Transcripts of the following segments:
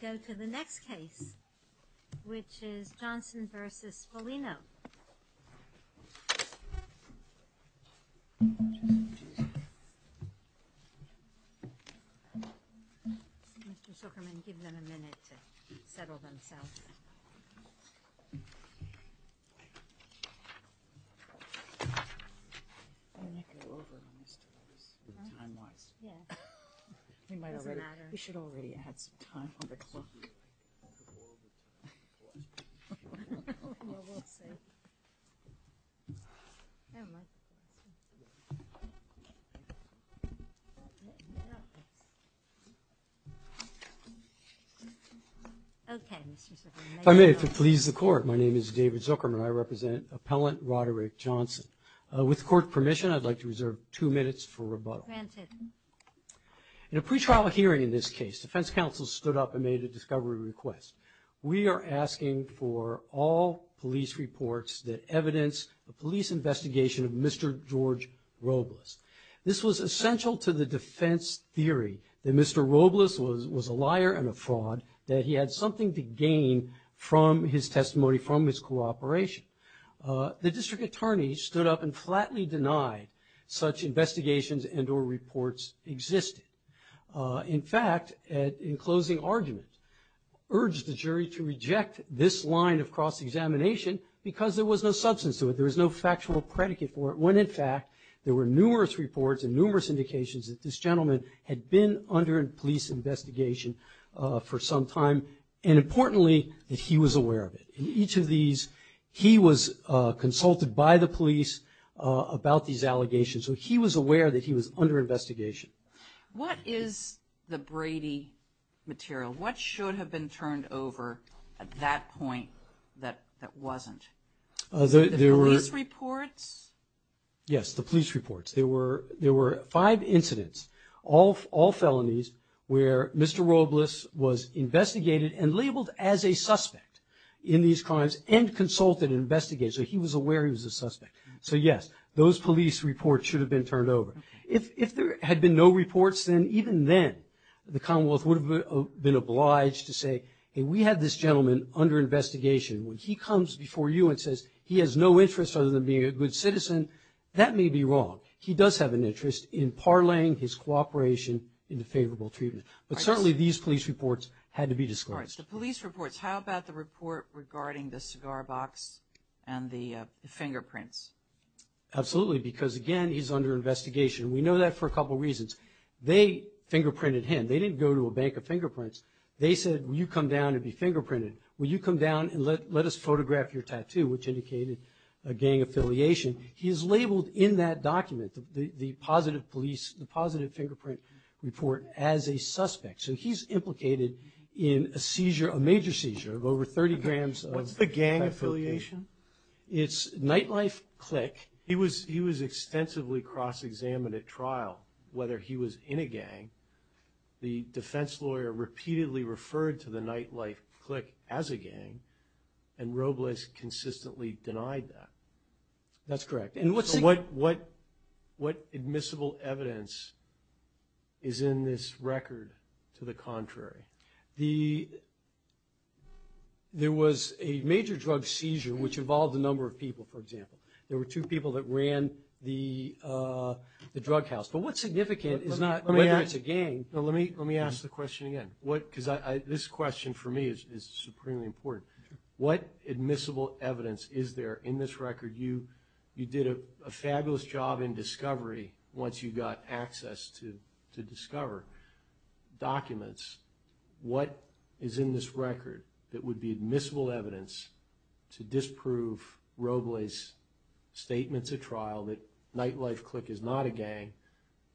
Go to the next case, which is Johnson v. Folino. Mr. Zuckerman, give them a minute to settle themselves. We should already have some time on the clock. Okay, Mr. Zuckerman. If I may, if it pleases the Court, my name is David Zuckerman. I represent Appellant Roderick Johnson. With Court permission, I'd like to reserve two minutes for rebuttal. Granted. In a pretrial hearing in this case, defense counsel stood up and made a discovery request. We are asking for all police reports that evidence the police investigation of Mr. George Robles. This was essential to the defense theory that Mr. Robles was a liar and a fraud, that he had something to gain from his testimony, from his cooperation. The district attorney stood up and flatly denied such investigations and or reports existed. In fact, in closing argument, urged the jury to reject this line of cross-examination because there was no substance to it, there was no factual predicate for it, when in fact there were numerous reports and numerous indications that this gentleman had been under a police investigation for some time, and importantly, that he was aware of it. In each of these, he was consulted by the police about these allegations, so he was aware that he was under investigation. What is the Brady material? What should have been turned over at that point that wasn't? The police reports? Yes, the police reports. There were five incidents, all felonies, where Mr. Robles was investigated and labeled as a suspect in these crimes and consulted and investigated, so he was aware he was a suspect. So, yes, those police reports should have been turned over. If there had been no reports, then even then the Commonwealth would have been obliged to say, hey, we had this gentleman under investigation. When he comes before you and says he has no interest other than being a good citizen, that may be wrong. He does have an interest in parlaying his cooperation into favorable treatment, but certainly these police reports had to be disclosed. All right, the police reports. How about the report regarding the cigar box and the fingerprints? Absolutely, because, again, he's under investigation. We know that for a couple reasons. They fingerprinted him. They didn't go to a bank of fingerprints. They said, will you come down and be fingerprinted? Will you come down and let us photograph your tattoo, which indicated a gang affiliation? He is labeled in that document, the positive fingerprint report, as a suspect. So he's implicated in a seizure, a major seizure, of over 30 grams. What's the gang affiliation? It's nightlife clique. He was extensively cross-examined at trial, whether he was in a gang. The defense lawyer repeatedly referred to the nightlife clique as a gang, and Robles consistently denied that. That's correct. So what admissible evidence is in this record to the contrary? There was a major drug seizure which involved a number of people, for example. There were two people that ran the drug house. But what's significant is not whether it's a gang. Let me ask the question again, because this question for me is supremely important. What admissible evidence is there in this record? You did a fabulous job in discovery once you got access to discover documents. What is in this record that would be admissible evidence to disprove Robles' statements at trial that nightlife clique is not a gang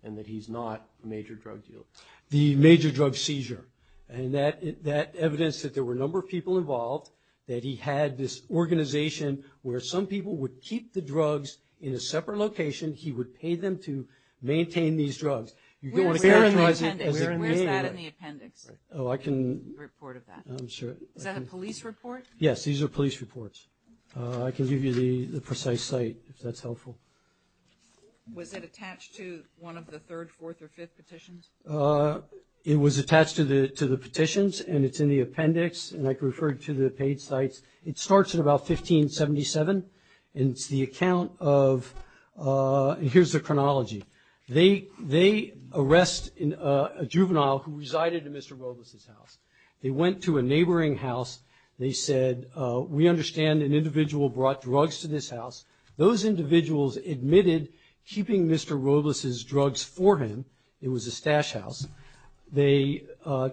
and that he's not a major drug dealer? The major drug seizure. And that evidence that there were a number of people involved, that he had this organization where some people would keep the drugs in a separate location. He would pay them to maintain these drugs. You don't want to characterize it as a gang. Where is that in the appendix, the report of that? Is that a police report? Yes, these are police reports. I can give you the precise site if that's helpful. Was it attached to one of the third, fourth, or fifth petitions? It was attached to the petitions, and it's in the appendix. And I can refer you to the paid sites. It starts at about 1577, and it's the account of ‑‑ and here's the chronology. They arrest a juvenile who resided in Mr. Robles' house. They went to a neighboring house. They said, we understand an individual brought drugs to this house. Those individuals admitted keeping Mr. Robles' drugs for him. It was a stash house. They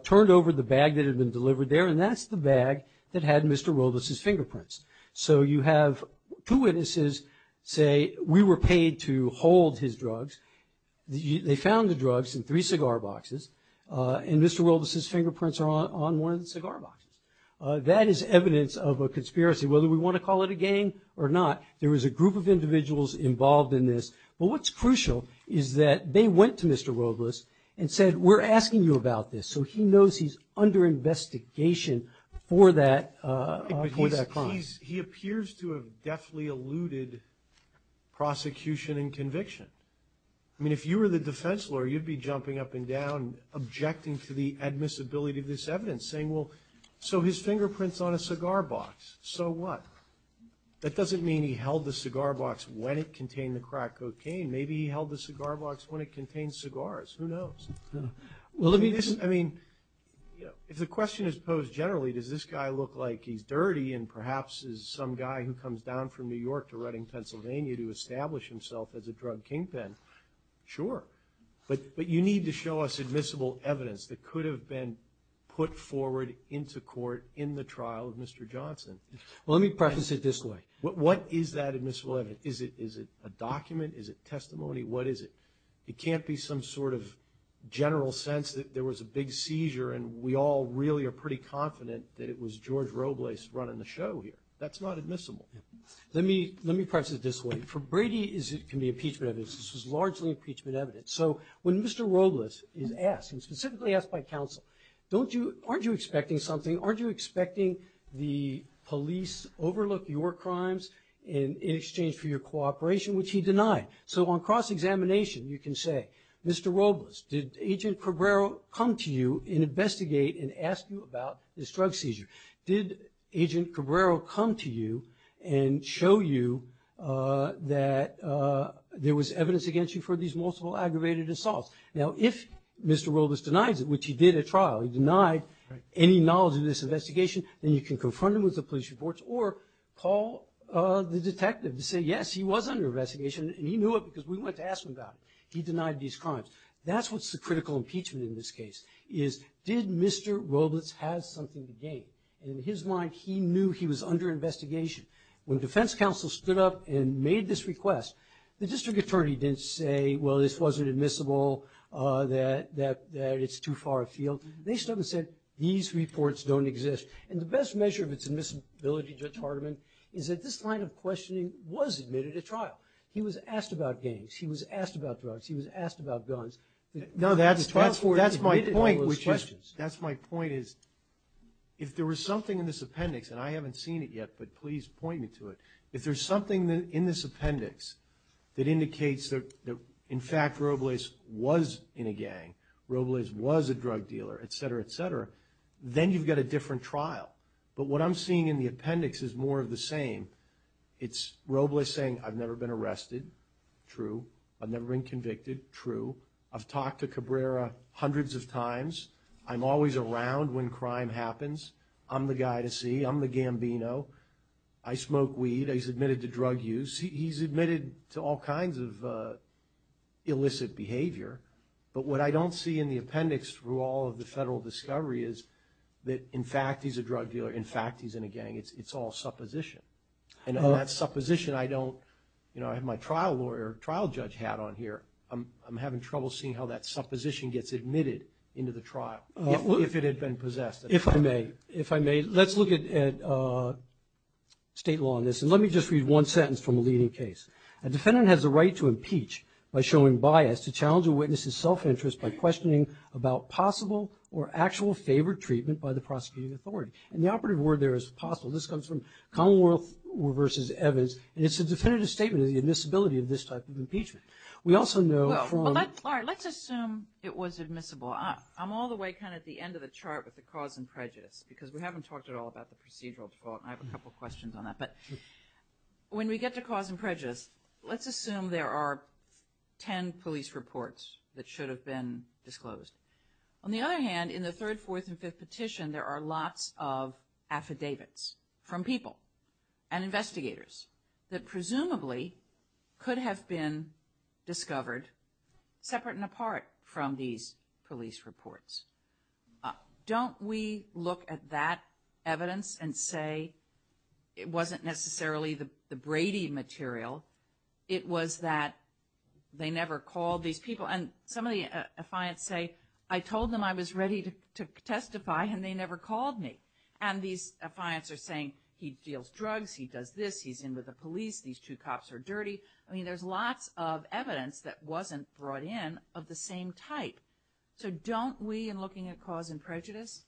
turned over the bag that had been delivered there, and that's the bag that had Mr. Robles' fingerprints. So you have two witnesses say, we were paid to hold his drugs. They found the drugs in three cigar boxes, and Mr. Robles' fingerprints are on one of the cigar boxes. That is evidence of a conspiracy, whether we want to call it a gang or not. There was a group of individuals involved in this. Well, what's crucial is that they went to Mr. Robles and said, we're asking you about this, so he knows he's under investigation for that crime. He appears to have deftly alluded prosecution and conviction. I mean, if you were the defense lawyer, you'd be jumping up and down, objecting to the admissibility of this evidence, saying, well, so his fingerprint's on a cigar box, so what? That doesn't mean he held the cigar box when it contained the crack cocaine. Maybe he held the cigar box when it contained cigars. Who knows? I mean, if the question is posed generally, does this guy look like he's dirty and perhaps is some guy who comes down from New York to Reading, Pennsylvania, to establish himself as a drug kingpin, sure. But you need to show us admissible evidence that could have been put forward into court in the trial of Mr. Johnson. Well, let me preface it this way. What is that admissible evidence? Is it a document? Is it testimony? What is it? It can't be some sort of general sense that there was a big seizure and we all really are pretty confident that it was George Robles running the show here. That's not admissible. Let me preface it this way. For Brady, it can be impeachment evidence. This was largely impeachment evidence. So when Mr. Robles is asked, and specifically asked by counsel, aren't you expecting something? Aren't you expecting the police overlook your crimes in exchange for your cooperation, which he denied? So on cross-examination you can say, Mr. Robles, did Agent Cabrero come to you and investigate and ask you about this drug seizure? Did Agent Cabrero come to you and show you that there was evidence against you for these multiple aggravated assaults? Now, if Mr. Robles denies it, which he did at trial, he denied any knowledge of this investigation, then you can confront him with the police reports or call the detective to say, yes, he was under investigation and he knew it because we went to ask him about it. He denied these crimes. That's what's the critical impeachment in this case, is did Mr. Robles have something to gain? In his mind, he knew he was under investigation. When defense counsel stood up and made this request, the district attorney didn't say, well, this wasn't admissible, that it's too far afield. They stood up and said, these reports don't exist. And the best measure of its admissibility, Judge Hardiman, is that this line of questioning was admitted at trial. He was asked about gangs. He was asked about drugs. He was asked about guns. No, that's my point. That's my point is if there was something in this appendix, and I haven't seen it yet, but please point me to it. If there's something in this appendix that indicates that, in fact, Robles was in a gang, Robles was a drug dealer, et cetera, et cetera, then you've got a different trial. But what I'm seeing in the appendix is more of the same. It's Robles saying, I've never been arrested. True. I've never been convicted. True. I've talked to Cabrera hundreds of times. I'm always around when crime happens. I'm the guy to see. I'm the Gambino. I smoke weed. He's admitted to drug use. He's admitted to all kinds of illicit behavior. But what I don't see in the appendix through all of the federal discovery is that, in fact, he's a drug dealer. In fact, he's in a gang. It's all supposition. And that supposition I don't, you know, I have my trial lawyer, trial judge hat on here. I'm having trouble seeing how that supposition gets admitted into the trial if it had been possessed. If I may, if I may, let's look at state law on this. And let me just read one sentence from a leading case. A defendant has the right to impeach by showing bias to challenge a witness's self-interest by questioning about possible or actual favored treatment by the prosecuting authority. And the operative word there is possible. This comes from Commonwealth v. Evans. And it's a definitive statement of the admissibility of this type of impeachment. We also know from. Well, let's assume it was admissible. I'm all the way kind of at the end of the chart with the cause and prejudice because we haven't talked at all about the procedural and I have a couple of questions on that. But when we get to cause and prejudice, let's assume there are ten police reports that should have been disclosed. On the other hand, in the third, fourth, and fifth petition, there are lots of affidavits from people and investigators that presumably could have been discovered separate and apart from these police reports. Don't we look at that evidence and say it wasn't necessarily the Brady material. It was that they never called these people. And some of the affiants say, I told them I was ready to testify and they never called me. And these affiants are saying he deals drugs, he does this, he's in with the police, these two cops are dirty. I mean, there's lots of evidence that wasn't brought in of the same type. So don't we, in looking at cause and prejudice,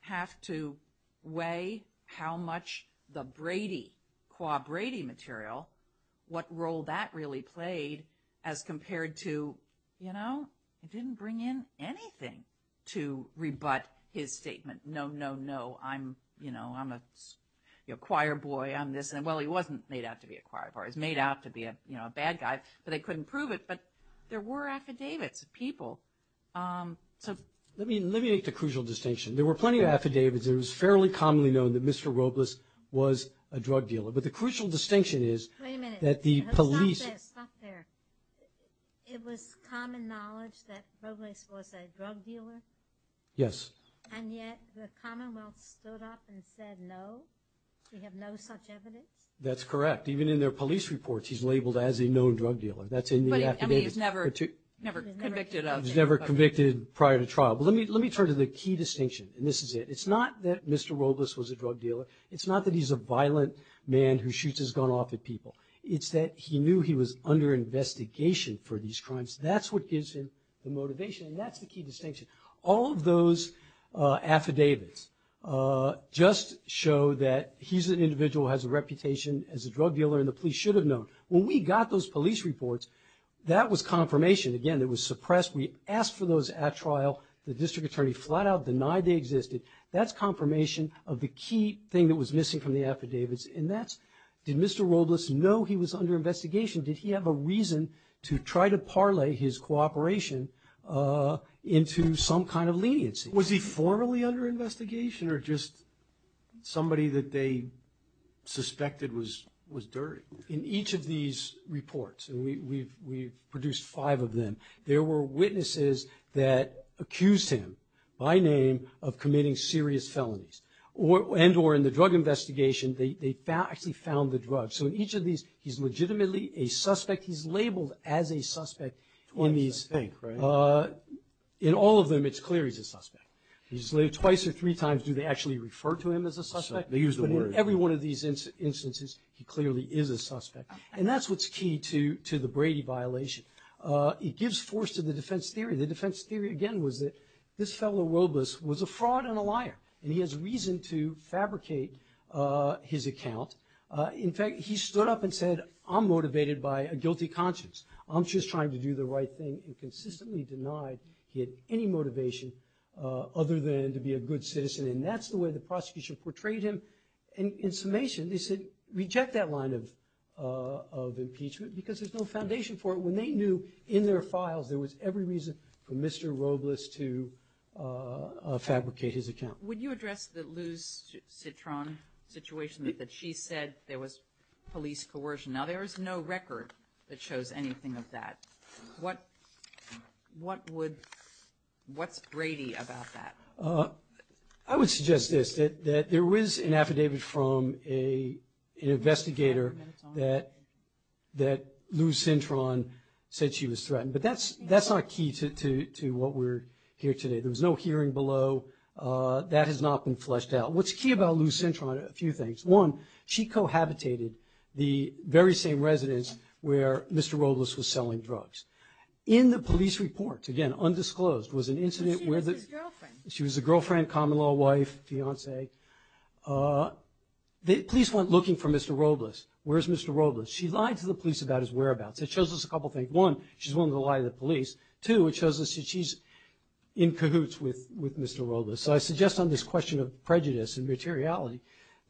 have to weigh how much the Brady, qua Brady material, what role that really played as compared to, you know, it didn't bring in anything to rebut his statement. No, no, no, I'm, you know, I'm a choir boy, I'm this. Well, he wasn't made out to be a choir boy, he was made out to be a bad guy, but they couldn't prove it. But there were affidavits of people. Let me make the crucial distinction. There were plenty of affidavits. It was fairly commonly known that Mr. Robles was a drug dealer. But the crucial distinction is that the police. Wait a minute, stop there, stop there. It was common knowledge that Robles was a drug dealer? Yes. And yet the Commonwealth stood up and said no, we have no such evidence? That's correct. Even in their police reports he's labeled as a known drug dealer. That's in the affidavits. But he was never convicted of it. He was never convicted prior to trial. But let me turn to the key distinction, and this is it. It's not that Mr. Robles was a drug dealer. It's not that he's a violent man who shoots his gun off at people. It's that he knew he was under investigation for these crimes. That's what gives him the motivation, and that's the key distinction. All of those affidavits just show that he's an individual who has a reputation as a drug dealer, and the police should have known. When we got those police reports, that was confirmation. Again, it was suppressed. We asked for those at trial. The district attorney flat out denied they existed. That's confirmation of the key thing that was missing from the affidavits, and that's did Mr. Robles know he was under investigation? Did he have a reason to try to parlay his cooperation into some kind of leniency? Was he formally under investigation or just somebody that they suspected was dirty? In each of these reports, and we've produced five of them, there were witnesses that accused him by name of committing serious felonies, and or in the drug investigation, they actually found the drugs. So in each of these, he's legitimately a suspect. He's labeled as a suspect. In all of them, it's clear he's a suspect. Twice or three times do they actually refer to him as a suspect. They use the word. In every one of these instances, he clearly is a suspect, and that's what's key to the Brady violation. It gives force to the defense theory. The defense theory, again, was that this fellow Robles was a fraud and a liar, and he has reason to fabricate his account. In fact, he stood up and said, I'm motivated by a guilty conscience. I'm just trying to do the right thing, and consistently denied he had any motivation other than to be a good citizen, and that's the way the prosecution portrayed him. And in summation, they said reject that line of impeachment because there's no foundation for it. When they knew in their files there was every reason for Mr. Robles to fabricate his account. Would you address the Luz Citron situation that she said there was police coercion? Now there is no record that shows anything of that. What's Brady about that? I would suggest this, that there is an affidavit from an investigator that Luz Citron said she was threatened, but that's not key to what we're hearing today. There was no hearing below. That has not been fleshed out. What's key about Luz Citron are a few things. One, she cohabitated the very same residence where Mr. Robles was selling drugs. In the police report, again, undisclosed, was an incident where the – he was a girlfriend, common-law wife, fiance. The police went looking for Mr. Robles. Where's Mr. Robles? She lied to the police about his whereabouts. It shows us a couple things. One, she's willing to lie to the police. Two, it shows us that she's in cahoots with Mr. Robles. So I suggest on this question of prejudice and materiality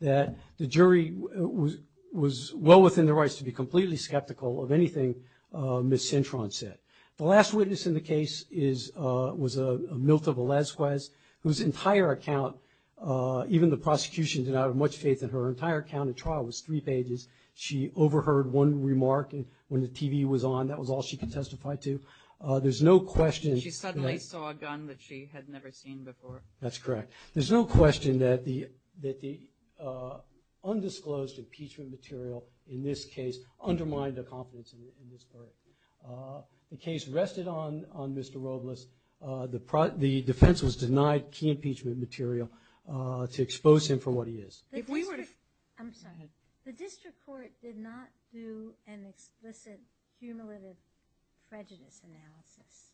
that the jury was well within their rights to be completely skeptical of anything Ms. Citron said. The last witness in the case is – was Milta Velazquez, whose entire account, even the prosecution did not have much faith in her. Her entire account at trial was three pages. She overheard one remark when the TV was on. That was all she could testify to. There's no question that – She suddenly saw a gun that she had never seen before. That's correct. There's no question that the undisclosed impeachment material in this case undermined the confidence in Ms. Curran. The case rested on Mr. Robles. The defense was denied key impeachment material to expose him for what he is. If we were to – I'm sorry. Go ahead. The district court did not do an explicit cumulative prejudice analysis.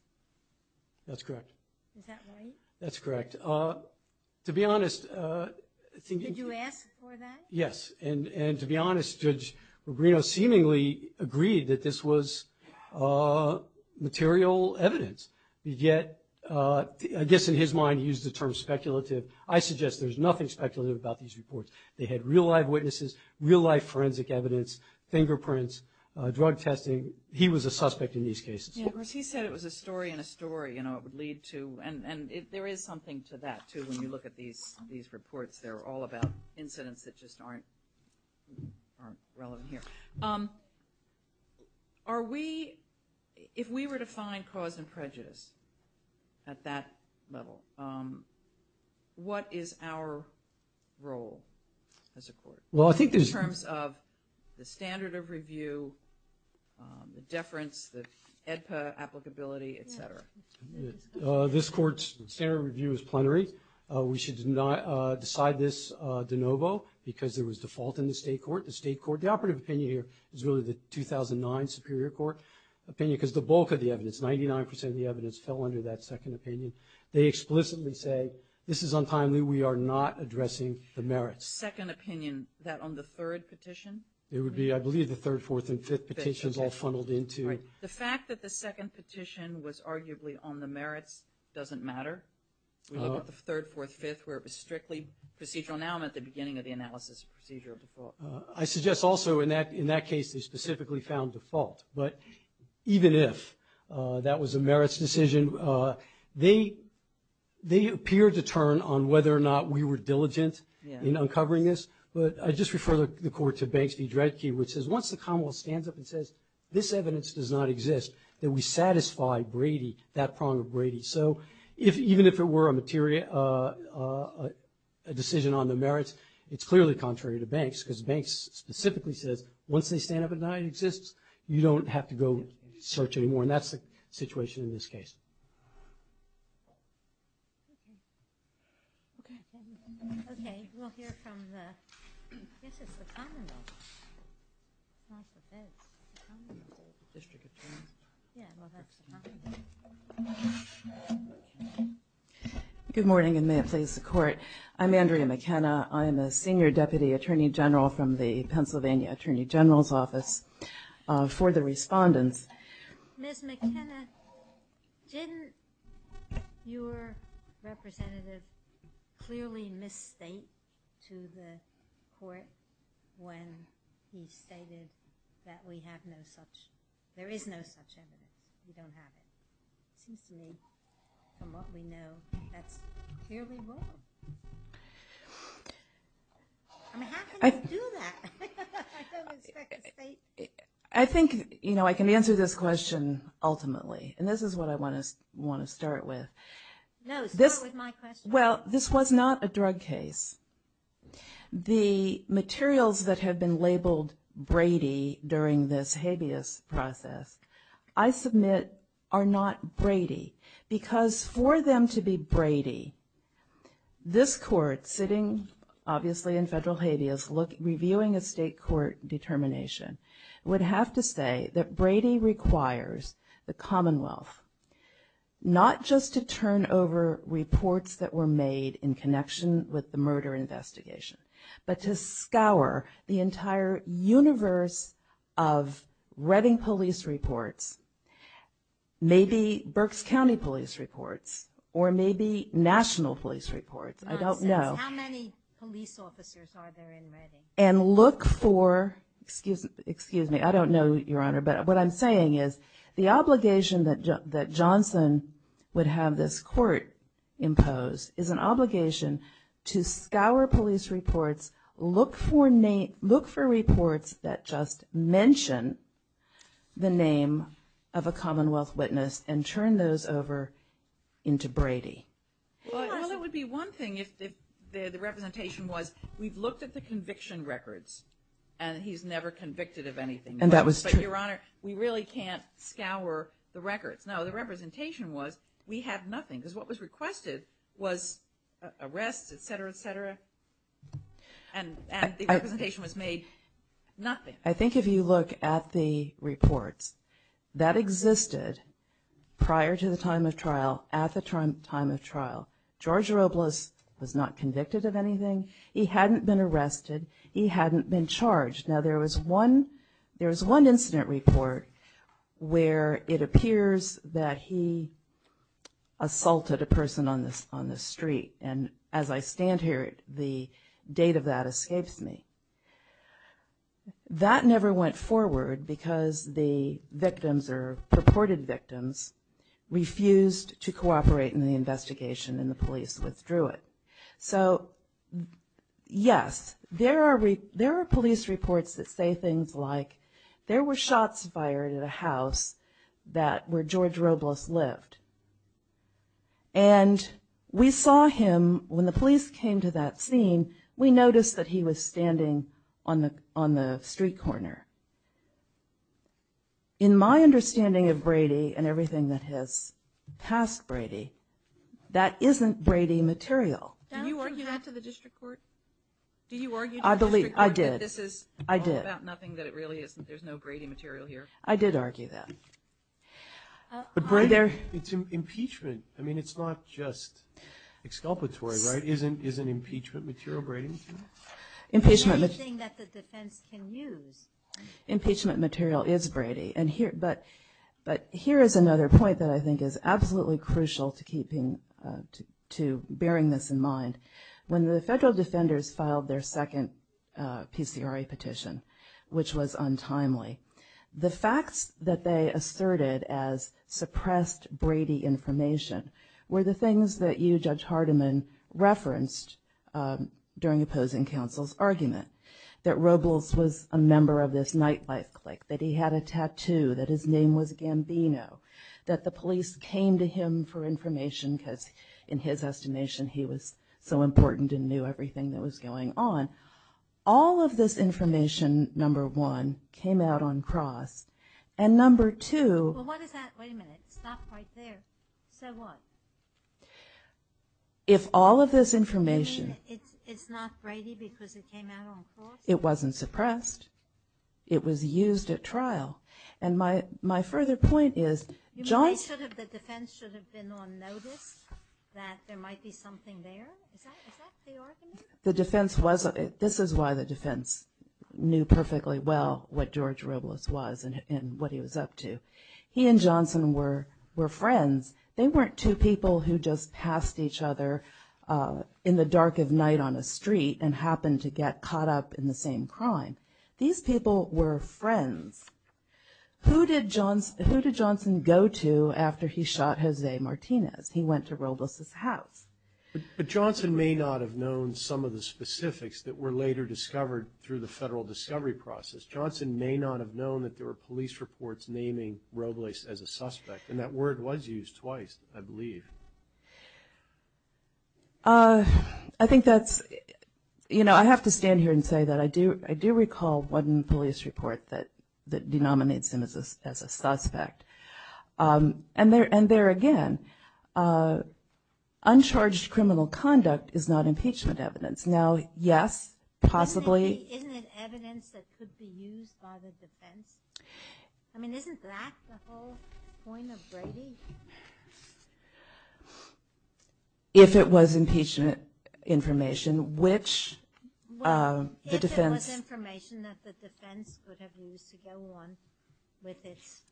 That's correct. Is that right? That's correct. To be honest – Did you ask for that? Yes. And to be honest, Judge Rubino seemingly agreed that this was material evidence. Yet, I guess in his mind he used the term speculative. I suggest there's nothing speculative about these reports. They had real-life witnesses, real-life forensic evidence, fingerprints, drug testing. He was a suspect in these cases. Yeah, of course, he said it was a story in a story, you know, it would lead to – and there is something to that, too, when you look at these reports. They're all about incidents that just aren't relevant here. Are we – if we were to find cause and prejudice at that level, what is our role as a court? Well, I think there's – In terms of the standard of review, the deference, the AEDPA applicability, et cetera. This court's standard of review is plenary. We should decide this de novo because there was default in the state court. The state court – the operative opinion here is really the 2009 Superior Court opinion because the bulk of the evidence, 99 percent of the evidence, fell under that second opinion. They explicitly say this is untimely. We are not addressing the merits. Second opinion, that on the third petition? It would be, I believe, the third, fourth, and fifth petitions all funneled into – Right. The fact that the second petition was arguably on the merits doesn't matter. We look at the third, fourth, fifth where it was strictly procedural. Now I'm at the beginning of the analysis procedure of default. I suggest also in that case they specifically found default. But even if that was a merits decision, they appeared to turn on whether or not we were diligent in uncovering this. But I just refer the court to Banksy-Dredke, which says once the Commonwealth stands up and says, this evidence does not exist, that we satisfy Brady, that prong of Brady. So even if it were a decision on the merits, it's clearly contrary to Banks because Banks specifically says, once they stand up and deny it exists, you don't have to go search anymore. And that's the situation in this case. Okay, we'll hear from the – I guess it's the Commonwealth. Not the feds, the Commonwealth. District attorneys. Yeah, well, that's the Commonwealth. Good morning, and may it please the Court. I'm Andrea McKenna. I'm a senior deputy attorney general from the Pennsylvania Attorney General's Office. For the respondents. Ms. McKenna, didn't your representative clearly misstate to the court when he stated that we have no such – there is no such evidence. We don't have it. CCA, from what we know, that's clearly wrong. I mean, how can you do that? I don't respect the state. I think I can answer this question ultimately, and this is what I want to start with. No, start with my question. Well, this was not a drug case. The materials that have been labeled Brady during this habeas process, this court, sitting obviously in federal habeas, reviewing a state court determination, would have to say that Brady requires the Commonwealth not just to turn over reports that were made in connection with the murder investigation, but to scour the entire universe of Redding police reports, maybe Berks County police reports, or maybe national police reports. I don't know. Nonsense. How many police officers are there in Redding? And look for – excuse me, I don't know, Your Honor, but what I'm saying is the obligation that Johnson would have this court impose is an obligation to scour police reports, look for reports that just mention the name of a Commonwealth witness and turn those over into Brady. Well, that would be one thing if the representation was, we've looked at the conviction records, and he's never convicted of anything. And that was true. But, Your Honor, we really can't scour the records. No, the representation was, we have nothing, because what was requested was arrests, et cetera, et cetera, and the representation was made. Nothing. I think if you look at the reports, that existed prior to the time of trial, at the time of trial. George Robles was not convicted of anything. He hadn't been arrested. He hadn't been charged. Now, there was one incident report where it appears that he assaulted a person on the street. And as I stand here, the date of that escapes me. That never went forward because the victims or purported victims refused to cooperate in the investigation, and the police withdrew it. So, yes, there are police reports that say things like, there were shots fired at a house where George Robles lived. And we saw him, when the police came to that scene, we noticed that he was standing on the street corner. In my understanding of Brady and everything that has passed Brady, that isn't Brady material. Do you argue that to the district court? Do you argue to the district court that this is all about nothing, that it really isn't, there's no Brady material here? I did argue that. It's impeachment. I mean, it's not just exculpatory, right? Isn't impeachment material Brady material? Anything that the defense can use. Impeachment material is Brady. But here is another point that I think is absolutely crucial to bearing this in mind. When the federal defenders filed their second PCRA petition, which was untimely, the facts that they asserted as suppressed Brady information were the things that you, Judge Hardiman, referenced during opposing counsel's argument, that Robles was a member of this nightlife clique, that he had a tattoo, that his name was Gambino, that the police came to him for information, because in his estimation he was so important and knew everything that was going on. All of this information, number one, came out uncrossed. And number two... Well, what is that? Wait a minute. It's not quite there. Say what? If all of this information... It's not Brady because it came out uncrossed? It wasn't suppressed. It was used at trial. And my further point is... You mean the defense should have been on notice that there might be something there? Is that the argument? This is why the defense knew perfectly well what George Robles was and what he was up to. He and Johnson were friends. They weren't two people who just passed each other in the dark of night on a street and happened to get caught up in the same crime. These people were friends. Who did Johnson go to after he shot Jose Martinez? He went to Robles' house. But Johnson may not have known some of the specifics that were later discovered through the federal discovery process. Johnson may not have known that there were police reports naming Robles twice as a suspect. And that word was used twice, I believe. I think that's... You know, I have to stand here and say that I do recall one police report that denominates him as a suspect. And there again, uncharged criminal conduct is not impeachment evidence. Now, yes, possibly... Isn't it evidence that could be used by the defense? I mean, isn't that the whole point of Brady? If it was impeachment information, which the defense... If it was information that the defense would have used to go on with its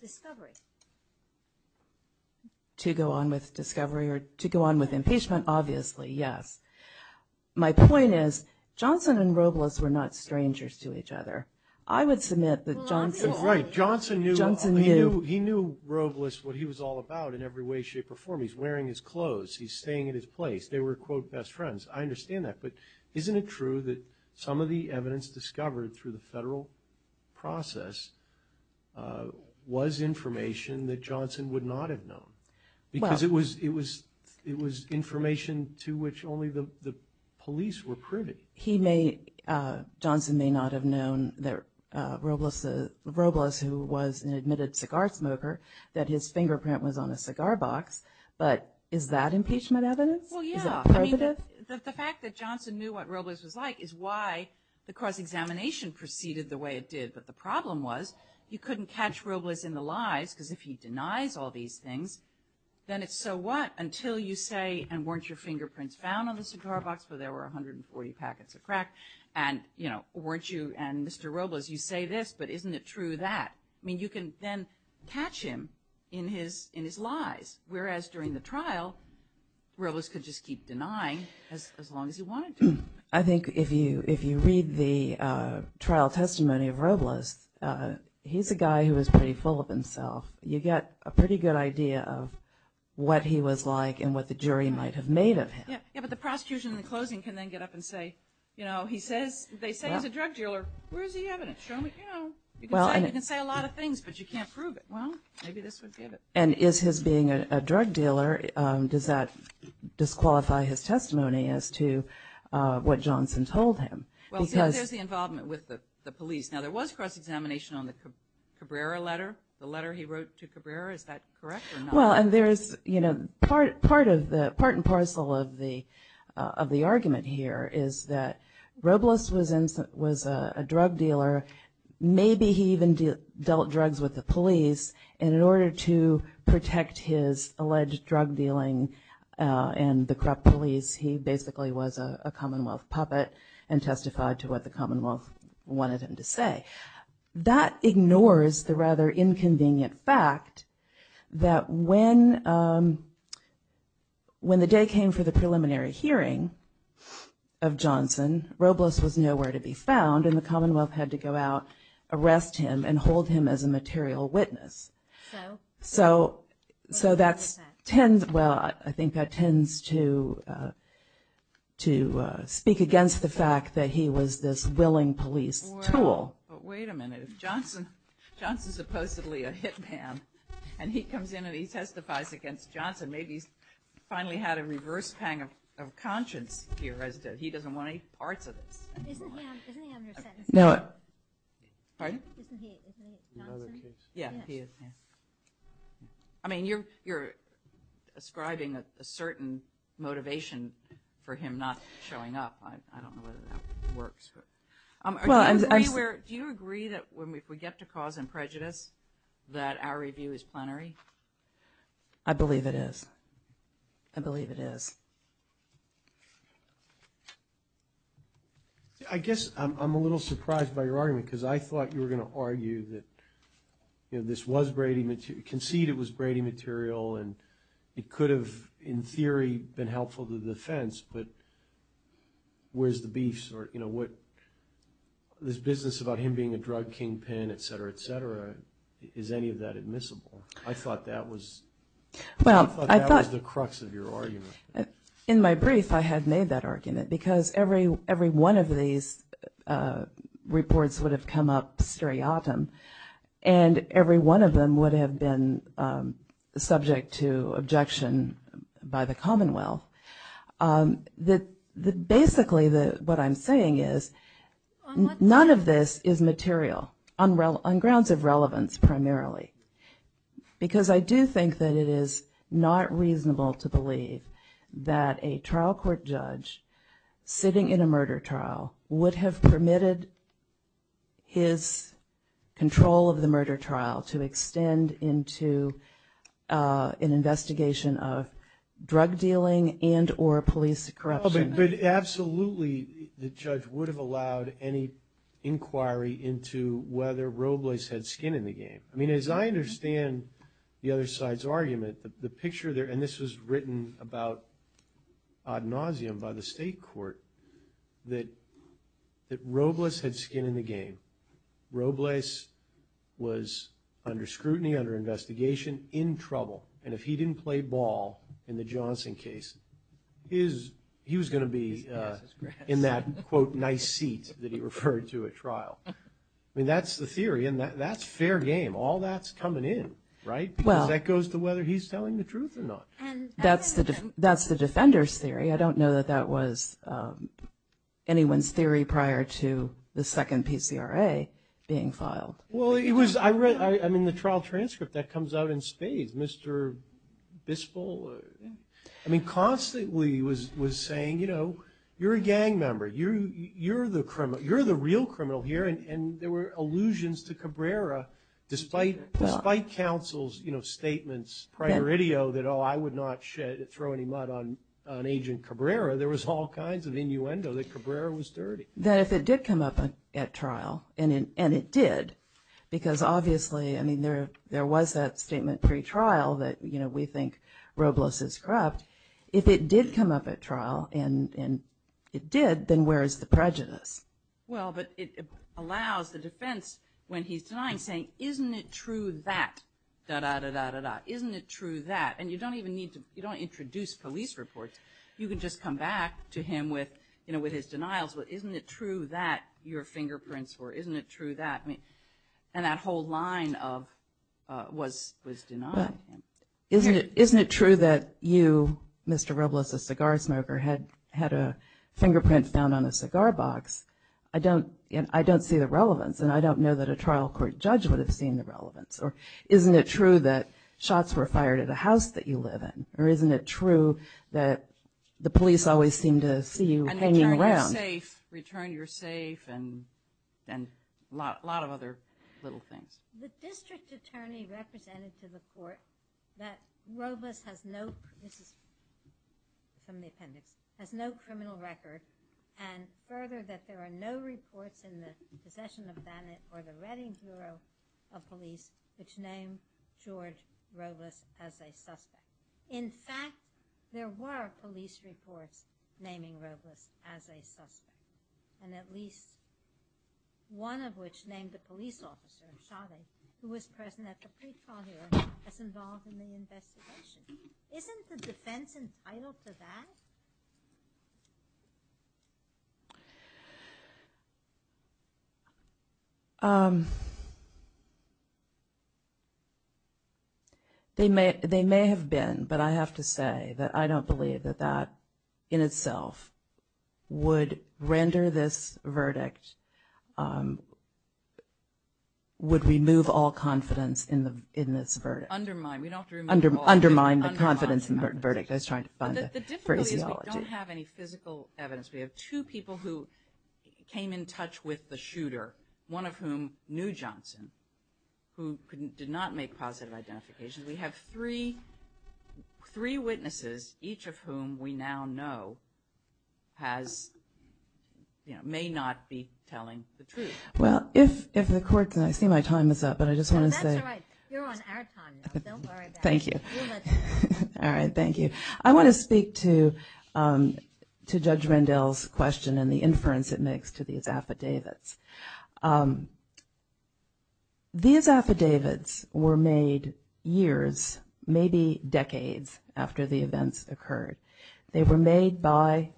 discovery. To go on with discovery or to go on with impeachment, obviously, yes. My point is Johnson and Robles were not strangers to each other. I would submit that Johnson... Right. Johnson knew Robles, what he was all about in every way, shape, or form. He's wearing his clothes. He's staying at his place. They were, quote, best friends. I understand that. But isn't it true that some of the evidence discovered through the federal process was information that Johnson would not have known? Because it was information to which only the police were privy. Johnson may not have known that Robles, who was an admitted cigar smoker, that his fingerprint was on a cigar box. But is that impeachment evidence? Well, yeah. The fact that Johnson knew what Robles was like is why the cross-examination proceeded the way it did. But the problem was you couldn't catch Robles in the lies, because if he denies all these things, then it's so what until you say, and weren't your fingerprints found on the cigar box, but there were 140 packets of crack, and, you know, weren't you, and Mr. Robles, you say this, but isn't it true that? I mean, you can then catch him in his lies, whereas during the trial, Robles could just keep denying as long as he wanted to. I think if you read the trial testimony of Robles, he's a guy who was pretty full of himself. You get a pretty good idea of what he was like and what the jury might have made of him. Yeah, but the prosecution in the closing can then get up and say, you know, they say he's a drug dealer. Where's the evidence? Show me. You know, you can say a lot of things, but you can't prove it. Well, maybe this would give it. And is his being a drug dealer, does that disqualify his testimony as to what Johnson told him? Well, there's the involvement with the police. Now, there was cross-examination on the Cabrera letter, the letter he wrote to Cabrera. Is that correct or not? Well, and there's, you know, part and parcel of the argument here is that Robles was a drug dealer. Maybe he even dealt drugs with the police, and in order to protect his alleged drug dealing and the corrupt police, he basically was a Commonwealth puppet and testified to what the Commonwealth wanted him to say. That ignores the rather inconvenient fact that when the day came for the preliminary hearing of Johnson, Robles was nowhere to be found, and the Commonwealth had to go out, arrest him, and hold him as a material witness. So that tends to speak against the fact that he was this willing police tool. But wait a minute. If Johnson's supposedly a hit man, and he comes in and he testifies against Johnson, maybe he's finally had a reverse pang of conscience here. He doesn't want any parts of this. Isn't he under sentencing? Pardon? Isn't he Johnson? Yeah, he is. I mean, you're ascribing a certain motivation for him not showing up. I don't know whether that works. Do you agree that if we get to cause and prejudice, that our review is plenary? I believe it is. I believe it is. I guess I'm a little surprised by your argument because I thought you were going to argue that this was Brady material, concede it was Brady material, and it could have, in theory, been helpful to the defense, but where's the beef? This business about him being a drug kingpin, et cetera, et cetera, is any of that admissible? I thought that was the crux of your argument. In my brief, I had made that argument because every one of these reports would have come up seriatim, and every one of them would have been subject to objection by the Commonwealth. Basically, what I'm saying is none of this is material on grounds of relevance, primarily, because I do think that it is not reasonable to believe that a trial court judge sitting in a murder trial would have permitted his control of the murder trial to extend into an investigation of drug dealing and or police corruption. Absolutely, the judge would have allowed any inquiry into whether Robles had skin in the game. I mean, as I understand the other side's argument, the picture there, and this was written about ad nauseum by the state court, that Robles had skin in the game. Robles was under scrutiny, under investigation, in trouble, and if he didn't play ball in the Johnson case, he was going to be in that, quote, nice seat that he referred to at trial. I mean, that's the theory, and that's fair game. All that's coming in, right? Because that goes to whether he's telling the truth or not. That's the defender's theory. I don't know that that was anyone's theory prior to the second PCRA being filed. Well, I mean, the trial transcript, that comes out in spades. Mr. Bispol, I mean, constantly was saying, you know, you're a gang member, you're the real criminal here, and there were allusions to Cabrera, despite counsel's statements prioritio that, you know, I would not throw any mud on Agent Cabrera, there was all kinds of innuendo that Cabrera was dirty. That if it did come up at trial, and it did, because obviously, I mean, there was that statement pre-trial that, you know, we think Robles is corrupt. If it did come up at trial, and it did, then where is the prejudice? Well, but it allows the defense, when he's denying, saying, isn't it true that, da-da-da-da-da-da, isn't it true that, and you don't even need to, you don't introduce police reports, you can just come back to him with, you know, with his denials, but isn't it true that your fingerprints were, isn't it true that, and that whole line of, was denied. Isn't it true that you, Mr. Robles, a cigar smoker, had a fingerprint found on a cigar box? I don't see the relevance, and I don't know that a trial court judge would have seen the relevance. Or isn't it true that shots were fired at a house that you live in? Or isn't it true that the police always seem to see you hanging around? And return your safe, return your safe, and a lot of other little things. The district attorney represented to the court that Robles has no, this is from the appendix, has no criminal record, and further, that there are no reports in the possession of Bennett or the Reading Bureau of Police which name George Robles as a suspect. In fact, there were police reports naming Robles as a suspect, and at least one of which named the police officer, Chavez, who was present at the pre-trial hearing as involved in the investigation. Isn't the defense entitled to that? They may have been, but I have to say that I don't believe that that in itself would render this verdict, would remove all confidence in this verdict. Undermine the confidence in the verdict. I was trying to find the phraseology. The difficulty is we don't have any physical evidence. We have two people who came in touch with the shooter, one of whom knew Johnson, who did not make positive identifications. We have three witnesses, each of whom we now know may not be telling the truth. Well, if the court, and I see my time is up, but I just want to say. That's all right. You're on our time now. Don't worry about it. Thank you. All right. Thank you. I want to speak to Judge Mandel's question and the inference it makes to these affidavits. These affidavits were made years, maybe decades after the events occurred. They were made by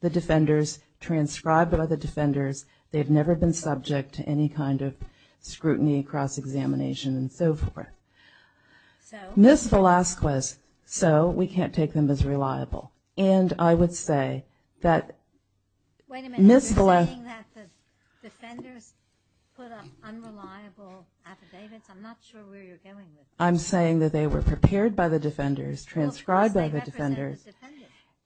the defenders, transcribed by the defenders. They've never been subject to any kind of scrutiny, cross-examination, and so forth. Ms. Velazquez, so we can't take them as reliable. And I would say that Ms. Velazquez. Wait a minute. You're saying that the defenders put up unreliable affidavits? I'm not sure where you're going with this. I'm saying that they were prepared by the defenders, transcribed by the defenders,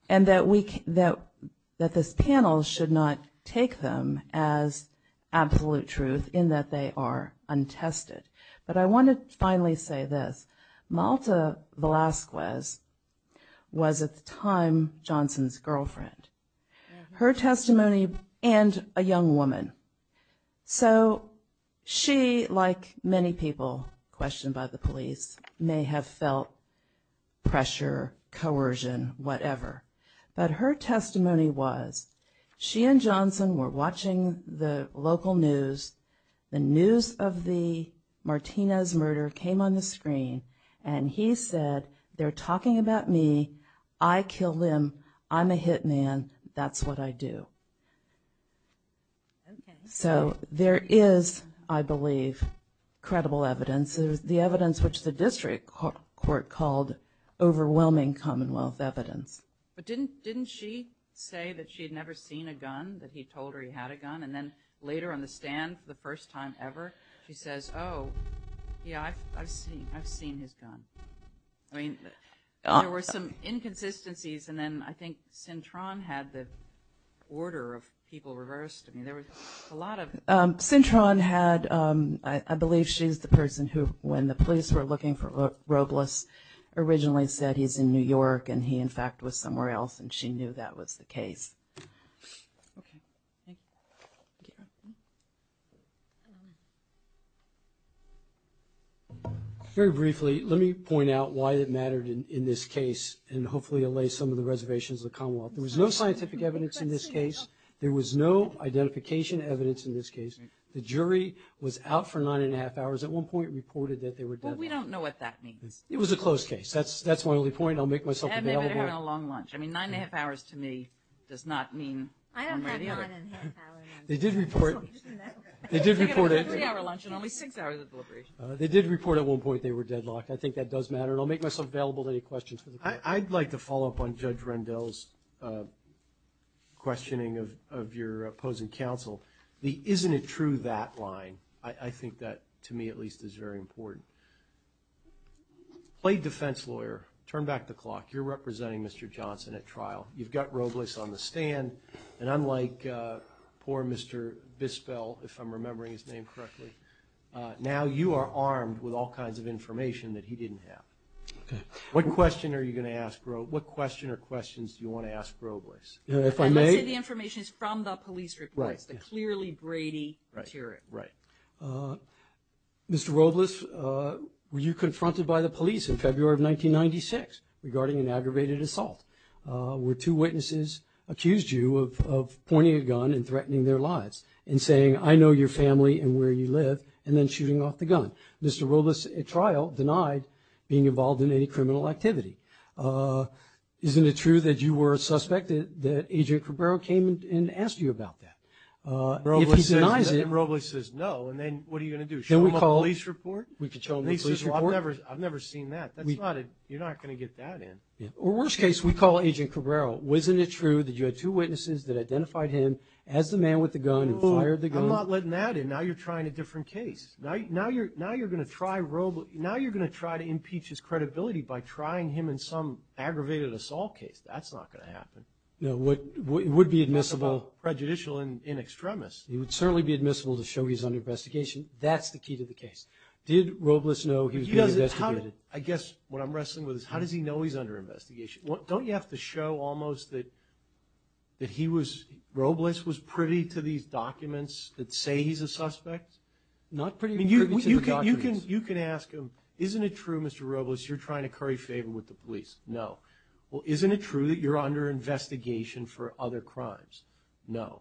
and that this panel should not take them as absolute truth in that they are untested. But I want to finally say this. Malta Velazquez was at the time Johnson's girlfriend. Her testimony and a young woman. So she, like many people questioned by the police, may have felt pressure, coercion, whatever. But her testimony was she and Johnson were watching the local news. The news of the Martinez murder came on the screen, and he said, they're talking about me. I killed him. I'm a hit man. That's what I do. So there is, I believe, credible evidence. There's the evidence which the district court called overwhelming commonwealth evidence. But didn't she say that she had never seen a gun, that he told her he had a gun? And then later on the stand, the first time ever, she says, oh, yeah, I've seen his gun. I mean, there were some inconsistencies, and then I think Cintron had the order of people reversed. I mean, there was a lot of. Cintron had, I believe she's the person who, when the police were looking for Robles, originally said he's in New York, and he, in fact, was somewhere else, and she knew that was the case. Okay, thank you. Thank you. Very briefly, let me point out why it mattered in this case, and hopefully allay some of the reservations of the commonwealth. There was no scientific evidence in this case. There was no identification evidence in this case. The jury was out for nine and a half hours. At one point it reported that they were dead. Well, we don't know what that means. It was a closed case. That's my only point. I'll make myself available. They've been having a long lunch. I mean, nine and a half hours to me does not mean. I don't have nine and a half hours. They did report. They did report. It was a three-hour lunch and only six hours of deliberation. They did report at one point they were deadlocked. I think that does matter. And I'll make myself available to any questions for the court. I'd like to follow up on Judge Rendell's questioning of your opposing counsel. The isn't it true that line, I think that, to me at least, is very important. Play defense lawyer. Turn back the clock. You're representing Mr. Johnson at trial. You've got Robles on the stand, and unlike poor Mr. Bispell, if I'm remembering his name correctly, now you are armed with all kinds of information that he didn't have. Okay. What question are you going to ask Robles? What question or questions do you want to ask Robles? If I may? I'm going to say the information is from the police reports, the clearly Brady hearing. Right. Mr. Robles, were you confronted by the police in February of 1996 regarding an aggravated assault? Were two witnesses accused you of pointing a gun and threatening their lives and saying, I know your family and where you live, and then shooting off the gun? Mr. Robles at trial denied being involved in any criminal activity. Isn't it true that you were a suspect, that Agent Cabrera came and asked you about that? If he denies it. Robles says no, and then what are you going to do? Show him a police report? We can show him a police report. I've never seen that. You're not going to get that in. Or worst case, we call Agent Cabrera, wasn't it true that you had two witnesses that identified him as the man with the gun and fired the gun? I'm not letting that in. Now you're trying a different case. Now you're going to try to impeach his credibility by trying him in some aggravated assault case. That's not going to happen. It would be admissible. That's a little prejudicial and extremist. It would certainly be admissible to show he's under investigation. That's the key to the case. Did Robles know he was being investigated? I guess what I'm wrestling with is how does he know he's under investigation? Don't you have to show almost that he was – Robles was privy to these documents that say he's a suspect? Not privy to the documents. You can ask him, isn't it true, Mr. Robles, you're trying to curry favor with the police? No. Well, isn't it true that you're under investigation for other crimes? No.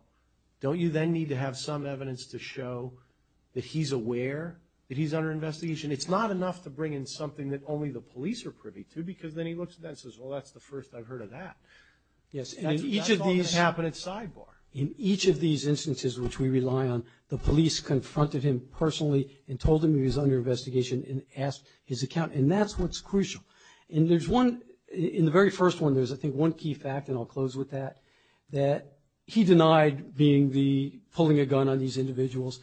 Don't you then need to have some evidence to show that he's aware that he's under investigation? It's not enough to bring in something that only the police are privy to because then he looks at that and says, well, that's the first I've heard of that. Yes. And in each of these – That's all that's happening sidebar. In each of these instances, which we rely on, the police confronted him personally and told him he was under investigation and asked his account. And that's what's crucial. And there's one – in the very first one, there's, I think, one key fact, and I'll close with that, that he denied being the – pulling a gun on these individuals.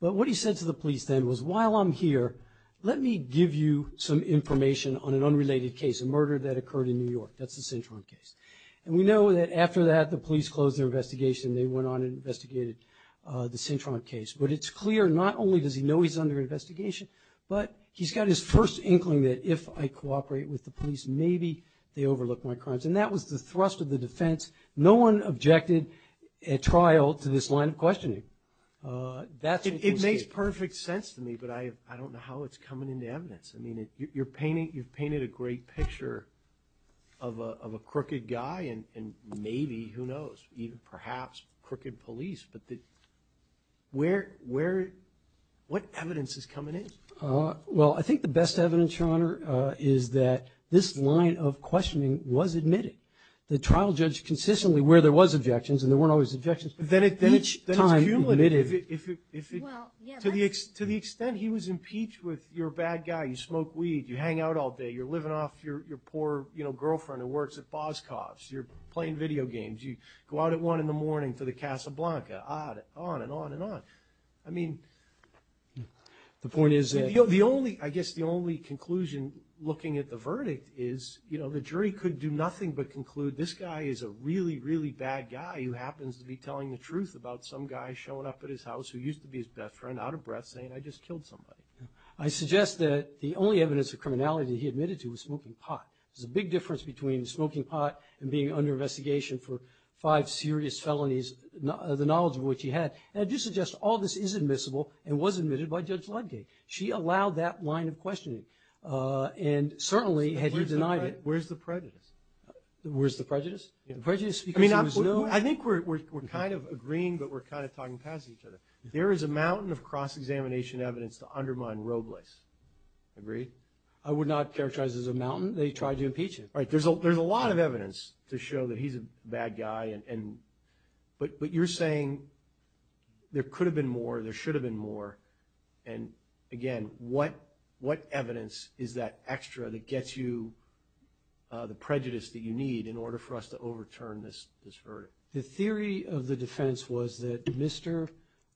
But what he said to the police then was, while I'm here, let me give you some information on an unrelated case, a murder that occurred in New York. That's the Cintron case. And we know that after that, the police closed their investigation. They went on and investigated the Cintron case. But it's clear not only does he know he's under investigation, but he's got his first inkling that if I cooperate with the police, maybe they overlook my crimes. And that was the thrust of the defense. No one objected at trial to this line of questioning. It makes perfect sense to me, but I don't know how it's coming into evidence. I mean, you're painting – you've painted a great picture of a crooked guy and maybe, who knows, perhaps crooked police. But where – what evidence is coming in? Well, I think the best evidence, Your Honor, is that this line of questioning was admitted. The trial judge consistently, where there was objections and there weren't always objections, each time admitted. Then it's cumulative. To the extent he was impeached with, you're a bad guy, you smoke weed, you hang out all day, you're living off your poor girlfriend who works at Boscov's, you're playing video games, you go out at 1 in the morning to the Casablanca, on and on and on. I mean – The point is that – The only – I guess the only conclusion looking at the verdict is, you know, the jury could do nothing but conclude this guy is a really, really bad guy who happens to be telling the truth about some guy showing up at his house who used to be his best friend, out of breath, saying, I just killed somebody. I suggest that the only evidence of criminality that he admitted to was smoking pot. There's a big difference between smoking pot and being under investigation for five serious felonies, the knowledge of which he had. And I do suggest all this is admissible and was admitted by Judge Ludgate. She allowed that line of questioning and certainly had denied it. Where's the prejudice? Where's the prejudice? The prejudice because he was no – I think we're kind of agreeing, but we're kind of talking past each other. There is a mountain of cross-examination evidence to undermine Robles. Agree? I would not characterize it as a mountain. They tried to impeach him. Right. There's a lot of evidence to show that he's a bad guy, but you're saying there could have been more, there should have been more, and, again, what evidence is that extra that gets you the prejudice that you need in order for us to overturn this verdict? The theory of the defense was that Mr.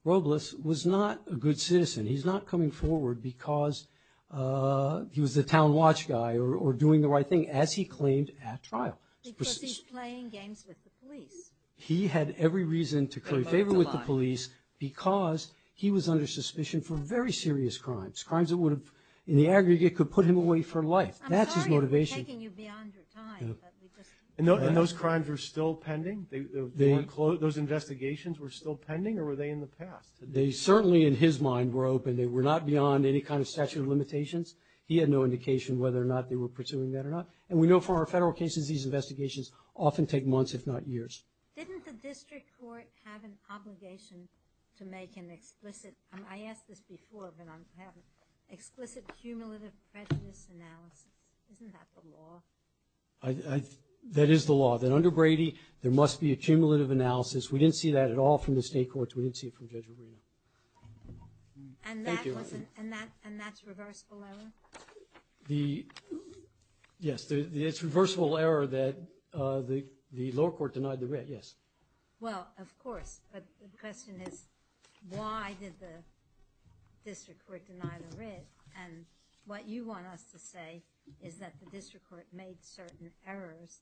Robles was not a good citizen. He's not coming forward because he was the town watch guy or doing the right thing, as he claimed at trial. Because he's playing games with the police. He had every reason to curry favor with the police because he was under suspicion for very serious crimes, crimes that would have, in the aggregate, could put him away for life. That's his motivation. I'm sorry we're taking you beyond your time. And those crimes were still pending? Those investigations were still pending, or were they in the past? They certainly, in his mind, were open. They were not beyond any kind of statute of limitations. He had no indication whether or not they were pursuing that or not. And we know from our federal cases these investigations often take months, if not years. Didn't the district court have an obligation to make an explicit – I asked this before, but I haven't – explicit cumulative prejudice analysis? Isn't that the law? That is the law, that under Brady there must be a cumulative analysis. We didn't see that at all from the state courts. We didn't see it from Judge Arena. And that's reversible error? The – yes, it's reversible error that the lower court denied the writ, yes. Well, of course, but the question is why did the district court deny the writ? And what you want us to say is that the district court made certain errors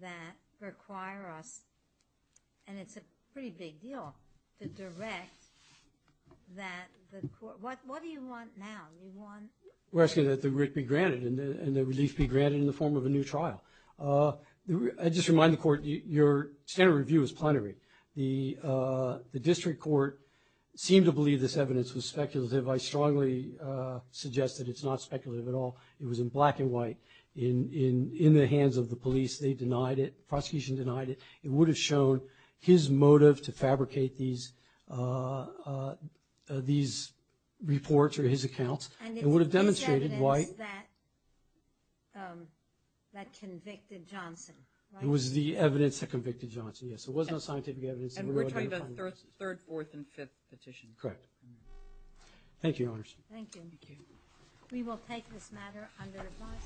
that require us – and it's a pretty big deal – to direct that the court – what do you want now? We're asking that the writ be granted and the relief be granted in the form of a new trial. I just remind the court your standard review is plenary. The district court seemed to believe this evidence was speculative. I strongly suggest that it's not speculative at all. It was in black and white in the hands of the police. They denied it. The prosecution denied it. It would have shown his motive to fabricate these reports or his accounts. And it's evidence that convicted Johnson, right? It was the evidence that convicted Johnson, yes. There was no scientific evidence. And we're talking about third, fourth, and fifth petitions. Correct. Thank you, Your Honors. Thank you. Thank you. We will take this matter under advisory.